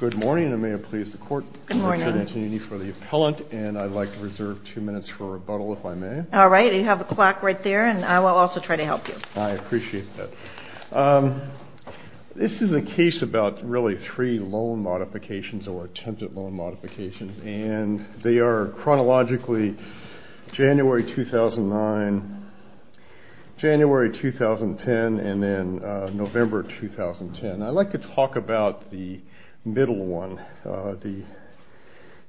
Good morning, and may it please the court, Richard Antonioni for the appellant, and I'd like to reserve two minutes for rebuttal, if I may. All right, you have a clock right there, and I will also try to help you. I appreciate that. This is a case about really three loan modifications or attempted loan modifications, and they are chronologically January 2009, January 2010, and then November 2010. I'd like to talk about the middle one,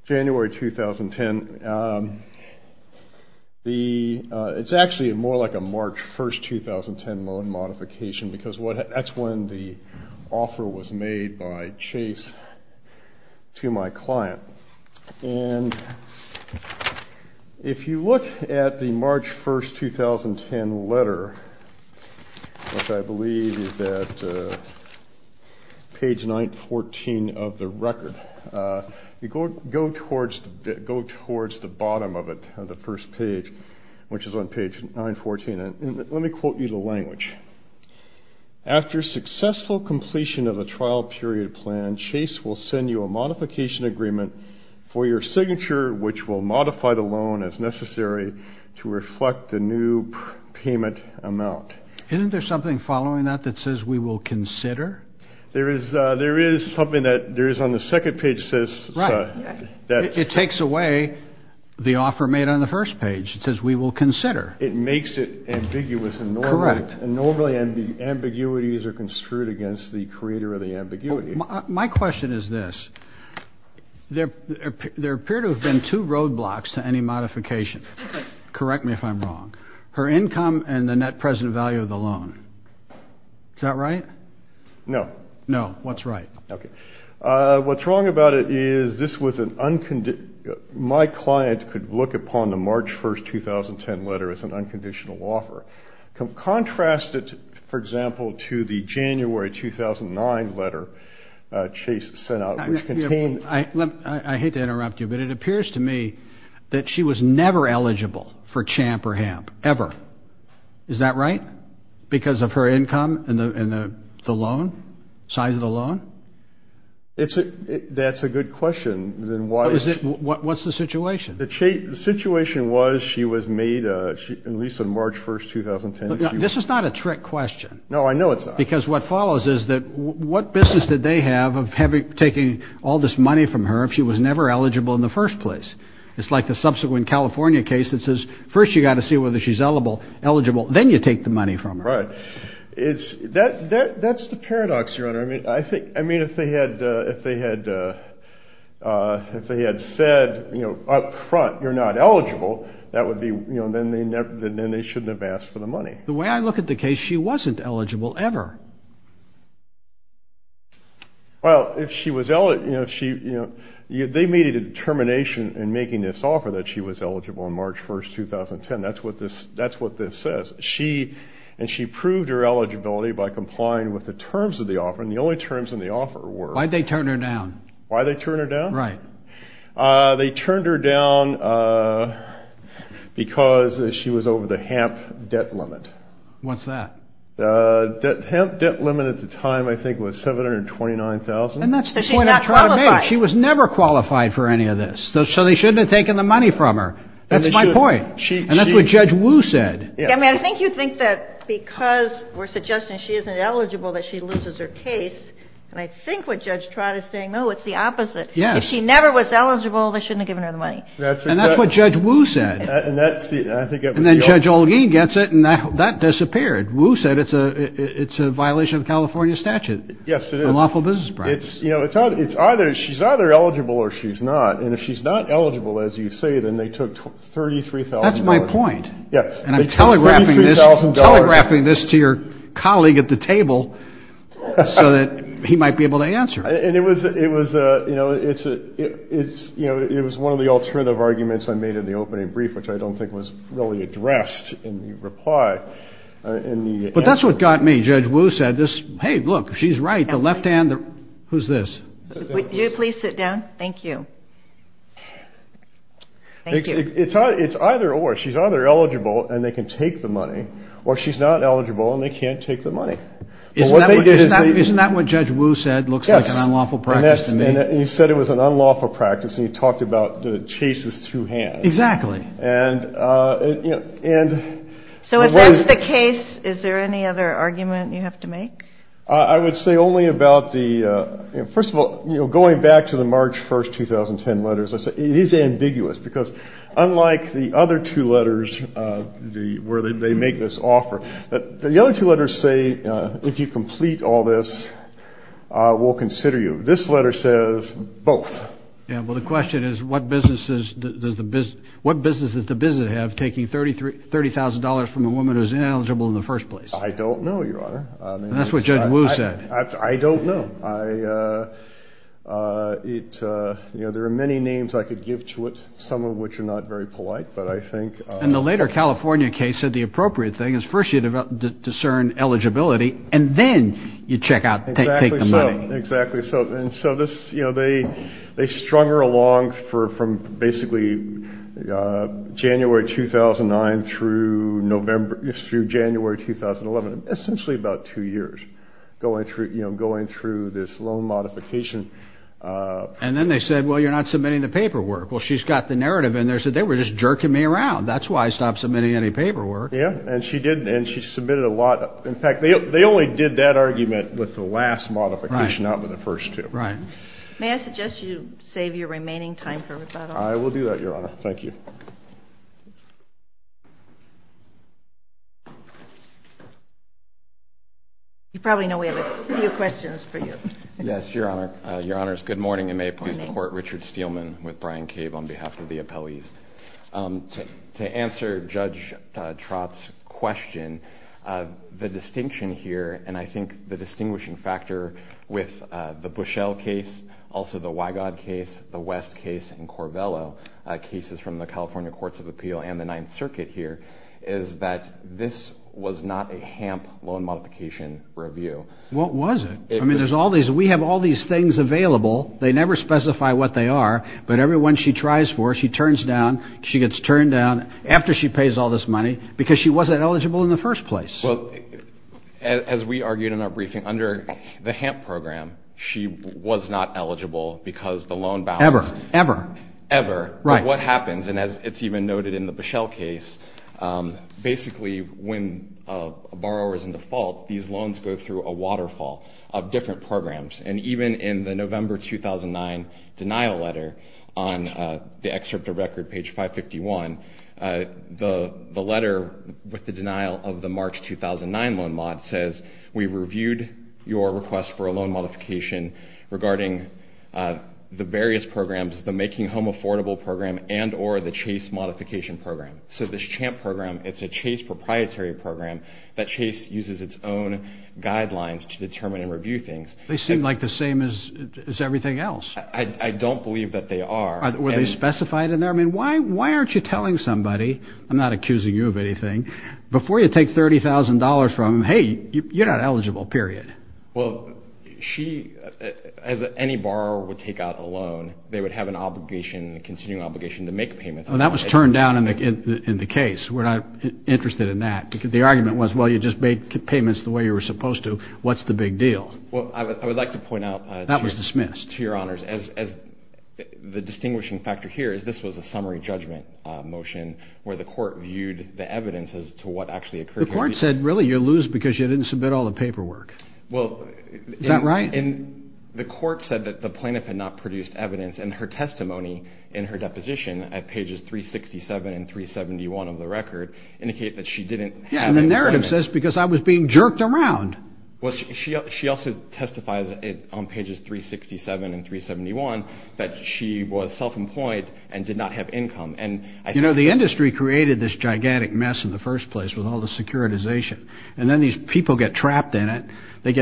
January 2010. It's actually more like a March 1, 2010 loan modification, because that's when the offer was made by Chase to my client. And if you look at the March 1, 2010 letter, which I believe is at page 914 of the record, go towards the bottom of it, the first page, which is on page 914. Let me quote you the language. After successful completion of a trial period plan, Chase will send you a modification agreement for your signature, which will modify the loan as necessary to reflect the new payment amount. Isn't there something following that that says we will consider? There is something that there is on the second page that says... Right. It takes away the offer made on the first page. It says we will consider. It makes it ambiguous and normal. Correct. And normally ambiguities are construed against the creator of the ambiguity. My question is this. There appear to have been two roadblocks to any modification. Correct me if I'm wrong. Her income and the net present value of the loan. Is that right? No. No. What's right? Okay. What's wrong about it is this was an... My client could look upon the March 1, 2010 letter as an unconditional offer. Contrast it, for example, to the January 2009 letter Chase sent out, which contained... I hate to interrupt you, but it appears to me that she was never eligible for CHAMP or HAMP, ever. Is that right? Because of her income and the loan? Size of the loan? That's a good question. What's the situation? The situation was she was made, at least on March 1, 2010... This is not a trick question. No, I know it's not. Because what follows is that what business did they have of taking all this money from her if she was never eligible in the first place? It's like the subsequent California case that says, first you've got to see whether she's eligible, then you take the money from her. Right. That's the paradox, Your Honor. I mean, if they had said up front, you're not eligible, then they shouldn't have asked for the money. The way I look at the case, she wasn't eligible, ever. Well, they made a determination in making this offer that she was eligible on March 1, 2010. That's what this says. And she proved her eligibility by complying with the terms of the offer, and the only terms in the offer were... Why'd they turn her down? Why'd they turn her down? Right. They turned her down because she was over the HAMP debt limit. What's that? HAMP debt limit at the time, I think, was $729,000. And that's the point I'm trying to make. She's not qualified. She was never qualified for any of this. So they shouldn't have taken the money from her. That's my point. And that's what Judge Wu said. I mean, I think you'd think that because we're suggesting she isn't eligible that she loses her case. And I think what Judge Trott is saying, no, it's the opposite. Yes. If she never was eligible, they shouldn't have given her the money. And that's what Judge Wu said. And then Judge Olguin gets it, and that disappeared. Wu said it's a violation of California statute. Yes, it is. A lawful business practice. It's either she's either eligible or she's not. And if she's not eligible, as you say, then they took $33,000. That's my point. And I'm telegraphing this to your colleague at the table so that he might be able to answer. And it was one of the alternative arguments I made in the opening brief, which I don't think was really addressed in the reply. But that's what got me. Judge Wu said, hey, look, she's right. The left hand. Who's this? Would you please sit down? Thank you. Thank you. It's either or. She's either eligible and they can take the money, or she's not eligible and they can't take the money. Isn't that what Judge Wu said? It looks like an unlawful practice. Yes. And he said it was an unlawful practice. And he talked about the chases through hands. Exactly. And, you know, and. So if that's the case, is there any other argument you have to make? I would say only about the, you know, first of all, you know, going back to the March 1st, 2010 letters, it is ambiguous. Because unlike the other two letters, where they make this offer, the other two letters say if you complete all this, we'll consider you. This letter says both. Yeah. Well, the question is, what business does the business have taking $30,000 from a woman who's ineligible in the first place? I don't know, Your Honor. That's what Judge Wu said. I don't know. You know, there are many names I could give to it, some of which are not very polite, but I think. And the later California case said the appropriate thing is first you discern eligibility and then you check out, take the money. Exactly so. And so this, you know, they strung her along for from basically January 2009 through November through January 2011. Essentially about two years going through, you know, going through this loan modification. And then they said, well, you're not submitting the paperwork. Well, she's got the narrative in there, so they were just jerking me around. That's why I stopped submitting any paperwork. Yeah, and she did, and she submitted a lot. In fact, they only did that argument with the last modification, not with the first two. Right. May I suggest you save your remaining time for rebuttal? I will do that, Your Honor. Thank you. You probably know we have a few questions for you. Yes, Your Honor. Your Honors, good morning, and may it please the Court, Richard Steelman with Brian Cave on behalf of the appellees. To answer Judge Trott's question, the distinction here, and I think the distinguishing factor with the Bushell case, also the Wygod case, the West case, and Corvello cases from the California Courts of Appeal and the Ninth Circuit here, is that this was not a HAMP loan modification review. Well, it wasn't. I mean, we have all these things available. They never specify what they are, but every one she tries for, she turns down. She gets turned down after she pays all this money because she wasn't eligible in the first place. Well, as we argued in our briefing, under the HAMP program, she was not eligible because the loan balance. Ever. Ever. Ever. Right. But what happens, and as it's even noted in the Bushell case, basically when a borrower is in default, these loans go through a waterfall of different programs. And even in the November 2009 denial letter on the excerpt of record, page 551, the letter with the denial of the March 2009 loan mod says, we reviewed your request for a loan modification regarding the various programs, the Making Home Affordable program and or the Chase Modification program. So this CHAMP program, it's a Chase proprietary program that Chase uses its own guidelines to determine and review things. They seem like the same as everything else. I don't believe that they are. Were they specified in there? I mean, why aren't you telling somebody? I'm not accusing you of anything. Before you take $30,000 from them, hey, you're not eligible, period. Well, she, as any borrower would take out a loan, they would have an obligation, a continuing obligation to make payments. Well, that was turned down in the case. We're not interested in that. The argument was, well, you just made payments the way you were supposed to. What's the big deal? Well, I would like to point out. That was dismissed. To your honors, as the distinguishing factor here is this was a summary judgment motion where the court viewed the evidence as to what actually occurred. The court said, really, you lose because you didn't submit all the paperwork. Is that right? The court said that the plaintiff had not produced evidence, and her testimony in her deposition at pages 367 and 371 of the record indicate that she didn't have any employment. Yeah, and the narrative says, because I was being jerked around. Well, she also testifies on pages 367 and 371 that she was self-employed and did not have income. You know, the industry created this gigantic mess in the first place with all the securitization. And then these people get trapped in it. They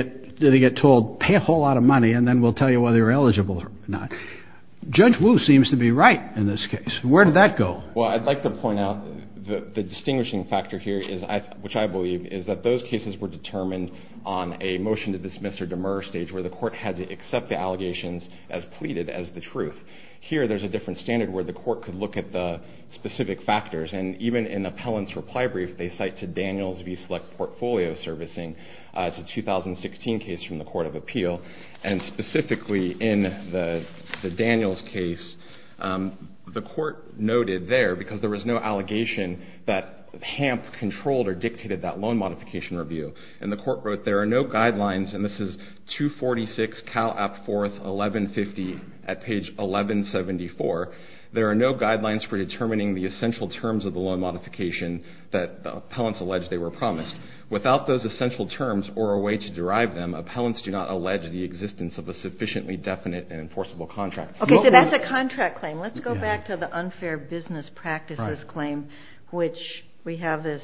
get told, pay a whole lot of money, and then we'll tell you whether you're eligible or not. Judge Wu seems to be right in this case. Where did that go? Well, I'd like to point out the distinguishing factor here, which I believe, is that those cases were determined on a motion to dismiss or demur stage where the court had to accept the allegations as pleaded as the truth. Here, there's a different standard where the court could look at the specific factors. And even in Appellant's reply brief, they cite to Daniels v. Select Portfolio Servicing. It's a 2016 case from the Court of Appeal. And specifically in the Daniels case, the court noted there, because there was no allegation that HAMP controlled or dictated that loan modification review, and the court wrote, there are no guidelines. And this is 246 Cal. App. 4th, 1150 at page 1174. There are no guidelines for determining the essential terms of the loan modification that Appellants allege they were promised. Without those essential terms or a way to derive them, Appellants do not allege the existence of a sufficiently definite and enforceable contract. Okay, so that's a contract claim. Let's go back to the unfair business practices claim, which we have this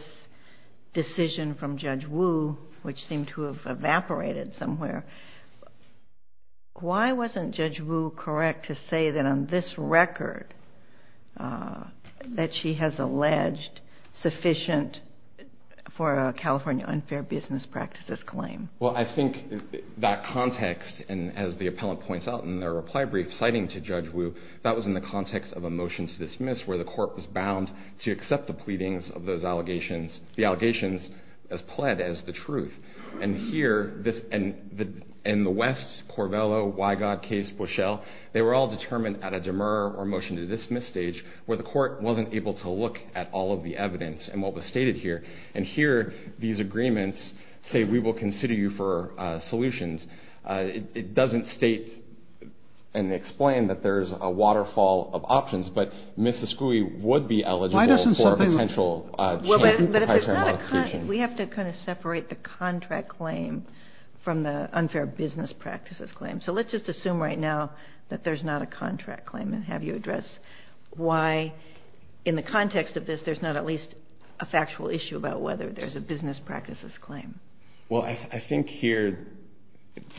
decision from Judge Wu, which seemed to have evaporated somewhere. Why wasn't Judge Wu correct to say that on this record, that she has alleged sufficient for a California unfair business practices claim? Well, I think that context, and as the Appellant points out in their reply brief citing to Judge Wu, that was in the context of a motion to dismiss, where the court was bound to accept the pleadings of those allegations, the allegations as pled as the truth. And here, in the West, Corvello, Wygod case, Bushell, they were all determined at a demur or motion to dismiss stage, where the court wasn't able to look at all of the evidence and what was stated here. And here, these agreements say, we will consider you for solutions. It doesn't state and explain that there's a waterfall of options, but Ms. Escui would be eligible for a potential champion for the high term modification. We have to kind of separate the contract claim from the unfair business practices claim. So let's just assume right now that there's not a contract claim, and have you address why, in the context of this, there's not at least a factual issue about whether there's a business practices claim. Well, I think here,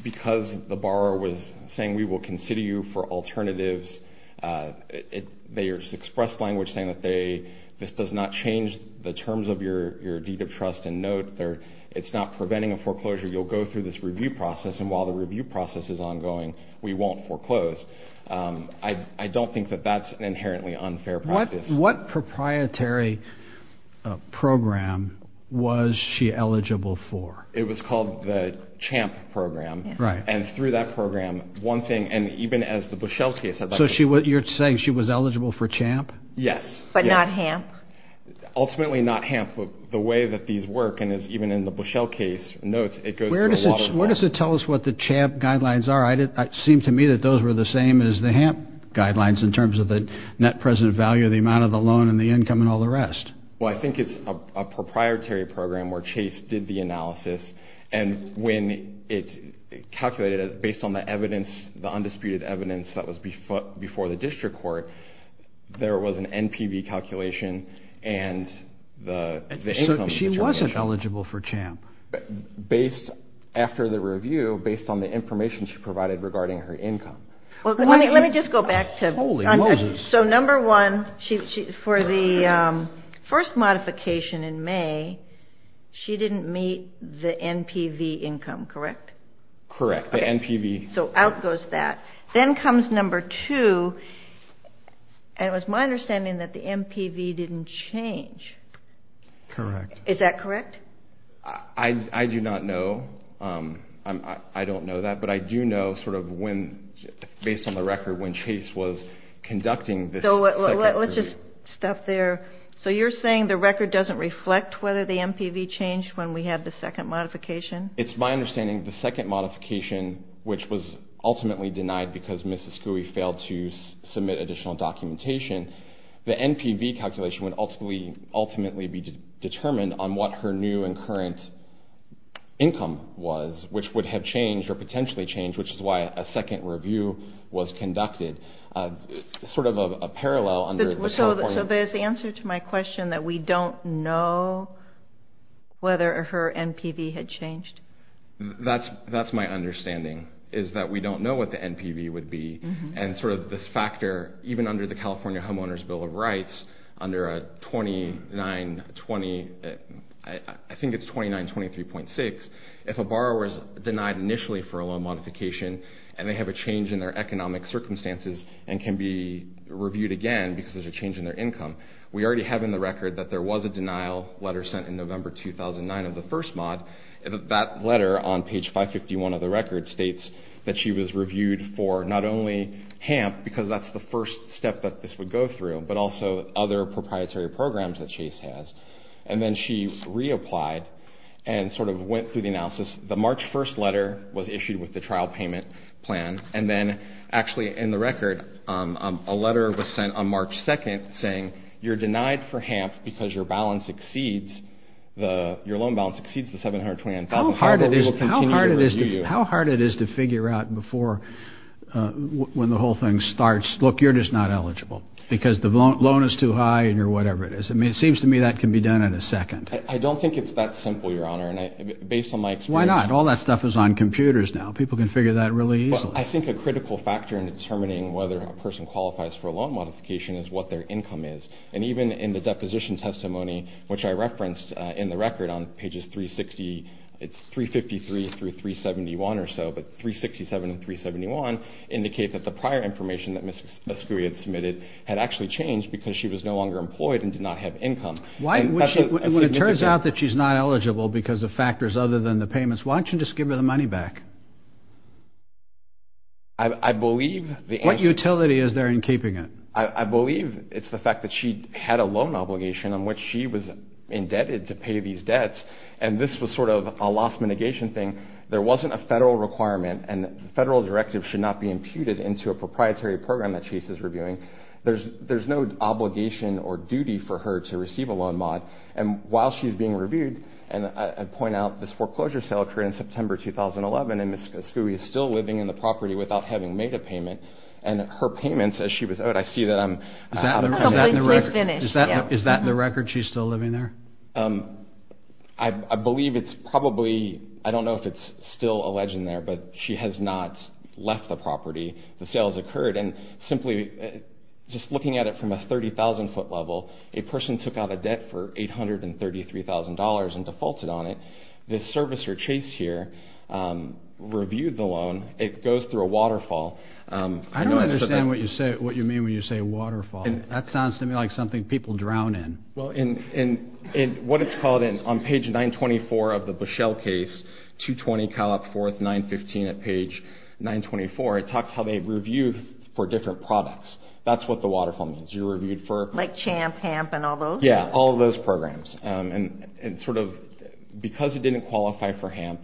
because the borrower was saying, we will consider you for alternatives, they expressed language saying that this does not change the terms of your deed of trust. And note, it's not preventing a foreclosure. You'll go through this review process, and while the review process is ongoing, we won't foreclose. I don't think that that's an inherently unfair practice. What proprietary program was she eligible for? It was called the CHAMP program. And through that program, one thing, and even as the Bushell case, So you're saying she was eligible for CHAMP? Yes. But not HAMP? Ultimately not HAMP. The way that these work, and as even in the Bushell case notes, it goes through a waterfall. Where does it tell us what the CHAMP guidelines are? It seemed to me that those were the same as the HAMP guidelines, in terms of the net present value, the amount of the loan, and the income, and all the rest. Well, I think it's a proprietary program where Chase did the analysis, and when it calculated based on the evidence, the undisputed evidence that was before the district court, there was an NPV calculation and the income. So she wasn't eligible for CHAMP? Based, after the review, based on the information she provided regarding her income. Let me just go back to, so number one, for the first modification in May, she didn't meet the NPV income, correct? Correct. So out goes that. Then comes number two, and it was my understanding that the NPV didn't change. Correct. Is that correct? I do not know. I don't know that. But I do know, based on the record, when Chase was conducting this second review. Let's just stop there. So you're saying the record doesn't reflect whether the NPV changed when we had the second modification? It's my understanding the second modification, which was ultimately denied because Mrs. Skouy failed to submit additional documentation, the NPV calculation would ultimately be determined on what her new and current income was, which would have changed or potentially changed, which is why a second review was conducted. Sort of a parallel. So there's the answer to my question that we don't know whether her NPV had changed? That's my understanding, is that we don't know what the NPV would be, and sort of this factor, even under the California Homeowners' Bill of Rights, under a 2920, I think it's 2923.6, if a borrower is denied initially for a loan modification and they have a change in their economic circumstances and can be reviewed again because there's a change in their income, we already have in the record that there was a denial letter sent in November 2009 of the first mod. That letter on page 551 of the record states that she was reviewed for not only HAMP, because that's the first step that this would go through, but also other proprietary programs that Chase has. And then she reapplied and sort of went through the analysis. The March 1st letter was issued with the trial payment plan, and then actually in the record a letter was sent on March 2nd saying, you're denied for HAMP because your loan balance exceeds the $729,000. How hard it is to figure out before when the whole thing starts, look, you're just not eligible, because the loan is too high and you're whatever it is. I mean, it seems to me that can be done in a second. I don't think it's that simple, Your Honor. And based on my experience Why not? All that stuff is on computers now. People can figure that really easily. I think a critical factor in determining whether a person qualifies for a loan modification is what their income is. And even in the deposition testimony, which I referenced in the record on pages 360, it's 353 through 371 or so, but 367 and 371 indicate that the prior information that Ms. Ascui had submitted had actually changed because she was no longer employed and did not have income. When it turns out that she's not eligible because of factors other than the payments, why don't you just give her the money back? What utility is there in keeping it? I believe it's the fact that she had a loan obligation on which she was indebted to pay these debts, and this was sort of a loss mitigation thing. There wasn't a federal requirement, and the federal directive should not be imputed into a proprietary program that Chase is reviewing. There's no obligation or duty for her to receive a loan mod. And while she's being reviewed, and I point out this foreclosure sale occurred in September 2011, and Ms. Ascui is still living in the property without having made a payment, and her payments, as she was owed, I see that I'm out of time. Is that in the record she's still living there? I believe it's probably, I don't know if it's still alleged in there, but she has not left the property. The sale has occurred, and simply just looking at it from a 30,000-foot level, a person took out a debt for $833,000 and defaulted on it. The servicer, Chase, here, reviewed the loan. It goes through a waterfall. I don't understand what you mean when you say waterfall. That sounds to me like something people drown in. Well, what it's called on page 924 of the Bushell case, 220 Calop 4th, 915 at page 924, it talks how they reviewed for different products. That's what the waterfall means. You reviewed for? Like CHAMP, HAMP, and all those? Yeah, all of those programs. And sort of because it didn't qualify for HAMP,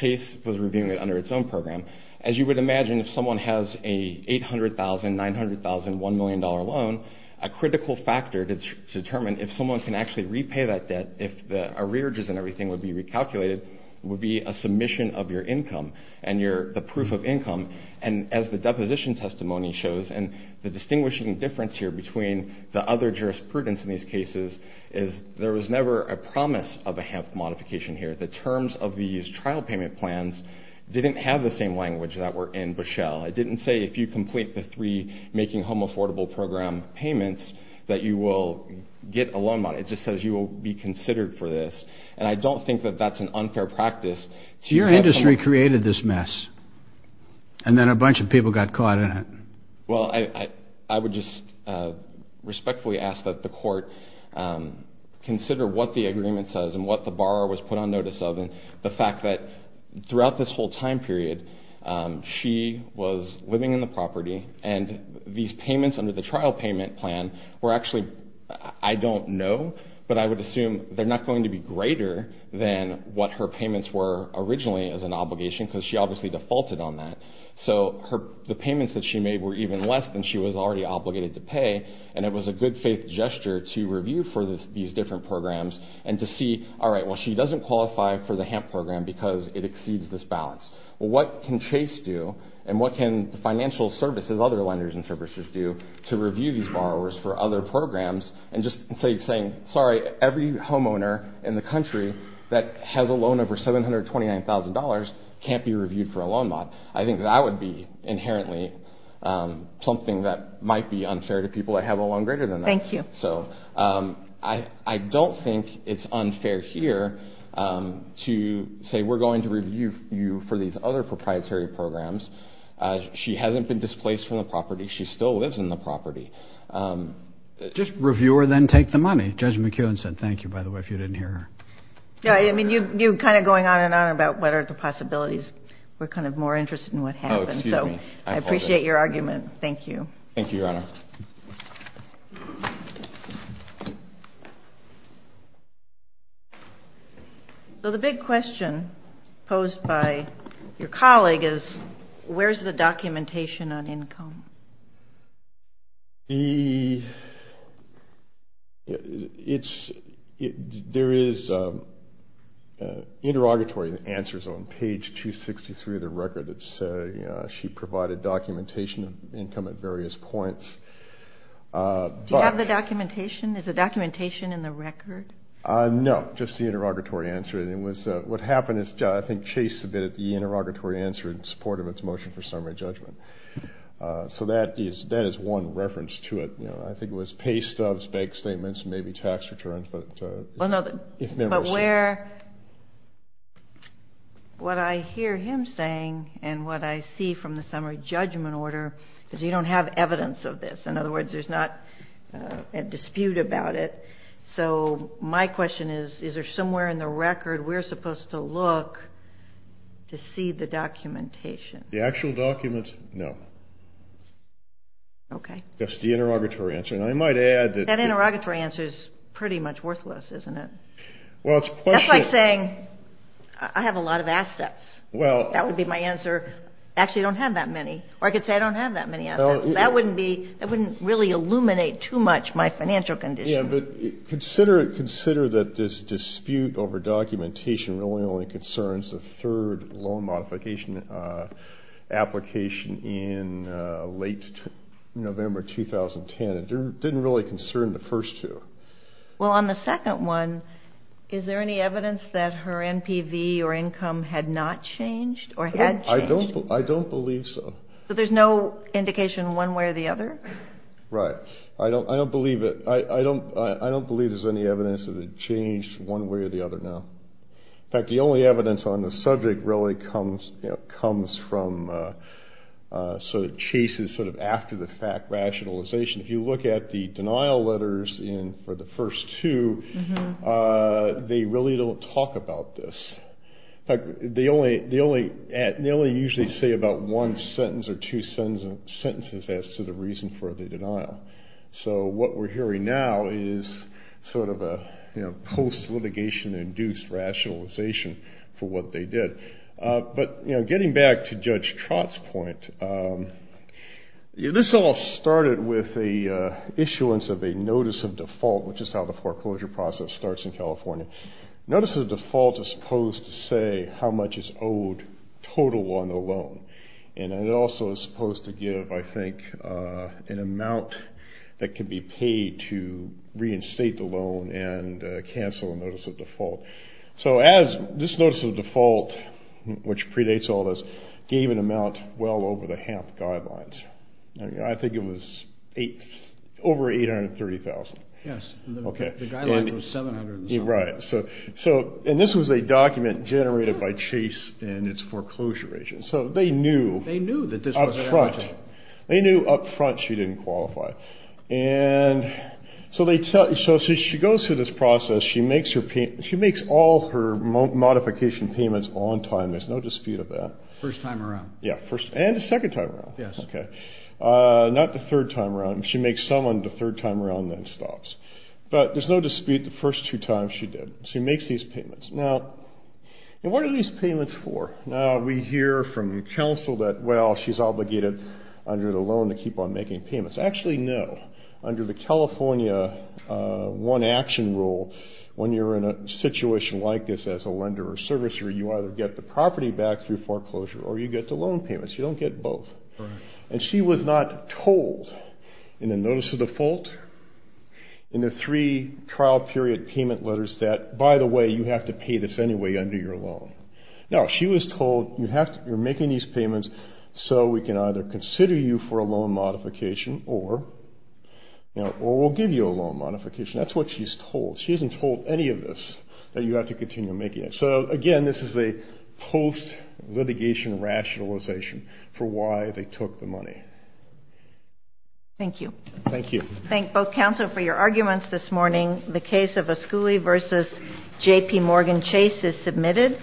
Chase was reviewing it under its own program. As you would imagine, if someone has a $800,000, $900,000, $1 million loan, a critical factor to determine if someone can actually repay that debt, if the arrearages and everything would be recalculated, it would be a submission of your income and the proof of income. And as the deposition testimony shows, and the distinguishing difference here between the other jurisprudence in these cases is there was never a promise of a HAMP modification here. The terms of these trial payment plans didn't have the same language that were in Bushell. It didn't say if you complete the three making home affordable program payments that you will get a loan. It just says you will be considered for this. And I don't think that that's an unfair practice. Your industry created this mess and then a bunch of people got caught in it. Well, I would just respectfully ask that the court consider what the agreement says and what the borrower was put on notice of and the fact that throughout this whole time period she was living in the property and these payments under the trial payment plan were actually, I don't know, but I would assume they're not going to be greater than what her payments were originally as an obligation because she obviously defaulted on that. So the payments that she made were even less than she was already obligated to pay and it was a good faith gesture to review for these different programs and to see, all right, well she doesn't qualify for the HAMP program because it exceeds this balance. What can Chase do and what can the financial services, other lenders and services do to review these borrowers for other programs and just say, sorry, every homeowner in the country that has a loan over $729,000 can't be reviewed for a loan mod. I think that would be inherently something that might be unfair to people that have a loan greater than that. Thank you. So I don't think it's unfair here to say we're going to review you for these other proprietary programs. She hasn't been displaced from the property. She still lives in the property. Just review her, then take the money. Judge McKeown said thank you, by the way, if you didn't hear her. Yeah, I mean, you're kind of going on and on about what are the possibilities. We're kind of more interested in what happens. Oh, excuse me. Thank you. Thank you, Your Honor. Thank you. So the big question posed by your colleague is where's the documentation on income? There is interrogatory answers on page 263 of the record that say she provided documentation of income at various points. Do you have the documentation? Is the documentation in the record? No, just the interrogatory answer. What happened is I think Chase submitted the interrogatory answer in support of its motion for summary judgment. So that is one reference to it. I think it was pay stubs, bank statements, maybe tax returns. But what I hear him saying and what I see from the summary judgment order is you don't have evidence of this. In other words, there's not a dispute about it. So my question is, is there somewhere in the record we're supposed to look to see the documentation? The actual document, no. Okay. Just the interrogatory answer. That interrogatory answer is pretty much worthless, isn't it? That's like saying I have a lot of assets. That would be my answer. Actually, I don't have that many. Or I could say I don't have that many assets. That wouldn't really illuminate too much my financial condition. Yeah, but consider that this dispute over documentation really only concerns the third loan modification application in late November 2010. It didn't really concern the first two. Well, on the second one, is there any evidence that her NPV or income had not changed or had changed? I don't believe so. So there's no indication one way or the other? Right. I don't believe it. I don't believe there's any evidence that it changed one way or the other now. In fact, the only evidence on the subject really comes from sort of chases sort of after the fact rationalization. If you look at the denial letters for the first two, they really don't talk about this. In fact, they only usually say about one sentence or two sentences as to the reason for the denial. So what we're hearing now is sort of a post-litigation-induced rationalization for what they did. But getting back to Judge Trott's point, this all started with the issuance of a notice of default, which is how the foreclosure process starts in California. Notice of default is supposed to say how much is owed total on the loan. And it also is supposed to give, I think, an amount that can be paid to reinstate the loan and cancel a notice of default. So this notice of default, which predates all this, gave an amount well over the HAMP guidelines. I think it was over $830,000. Yes. The guideline was $700,000. Right. And this was a document generated by Chase and its foreclosure agent. So they knew up front. They knew up front she didn't qualify. And so she goes through this process. She makes all her modification payments on time. There's no dispute of that. First time around. Yeah. And the second time around. Yes. Okay. Not the third time around. She makes some on the third time around and then stops. But there's no dispute the first two times she did. She makes these payments. Now, what are these payments for? We hear from counsel that, well, she's obligated under the loan to keep on making payments. Actually, no. Under the California one-action rule, when you're in a situation like this as a lender or servicer, you either get the property back through foreclosure or you get the loan payments. You don't get both. Right. And she was not told in the notice of default, in the three trial period payment letters, that, by the way, you have to pay this anyway under your loan. No. She was told you're making these payments so we can either consider you for a loan modification or we'll give you a loan modification. That's what she's told. She hasn't told any of this, that you have to continue making it. So, again, this is a post-litigation rationalization for why they took the money. Thank you. Thank you. Thank both counsel for your arguments this morning. The case of Asculi v. J.P. Morgan Chase is submitted.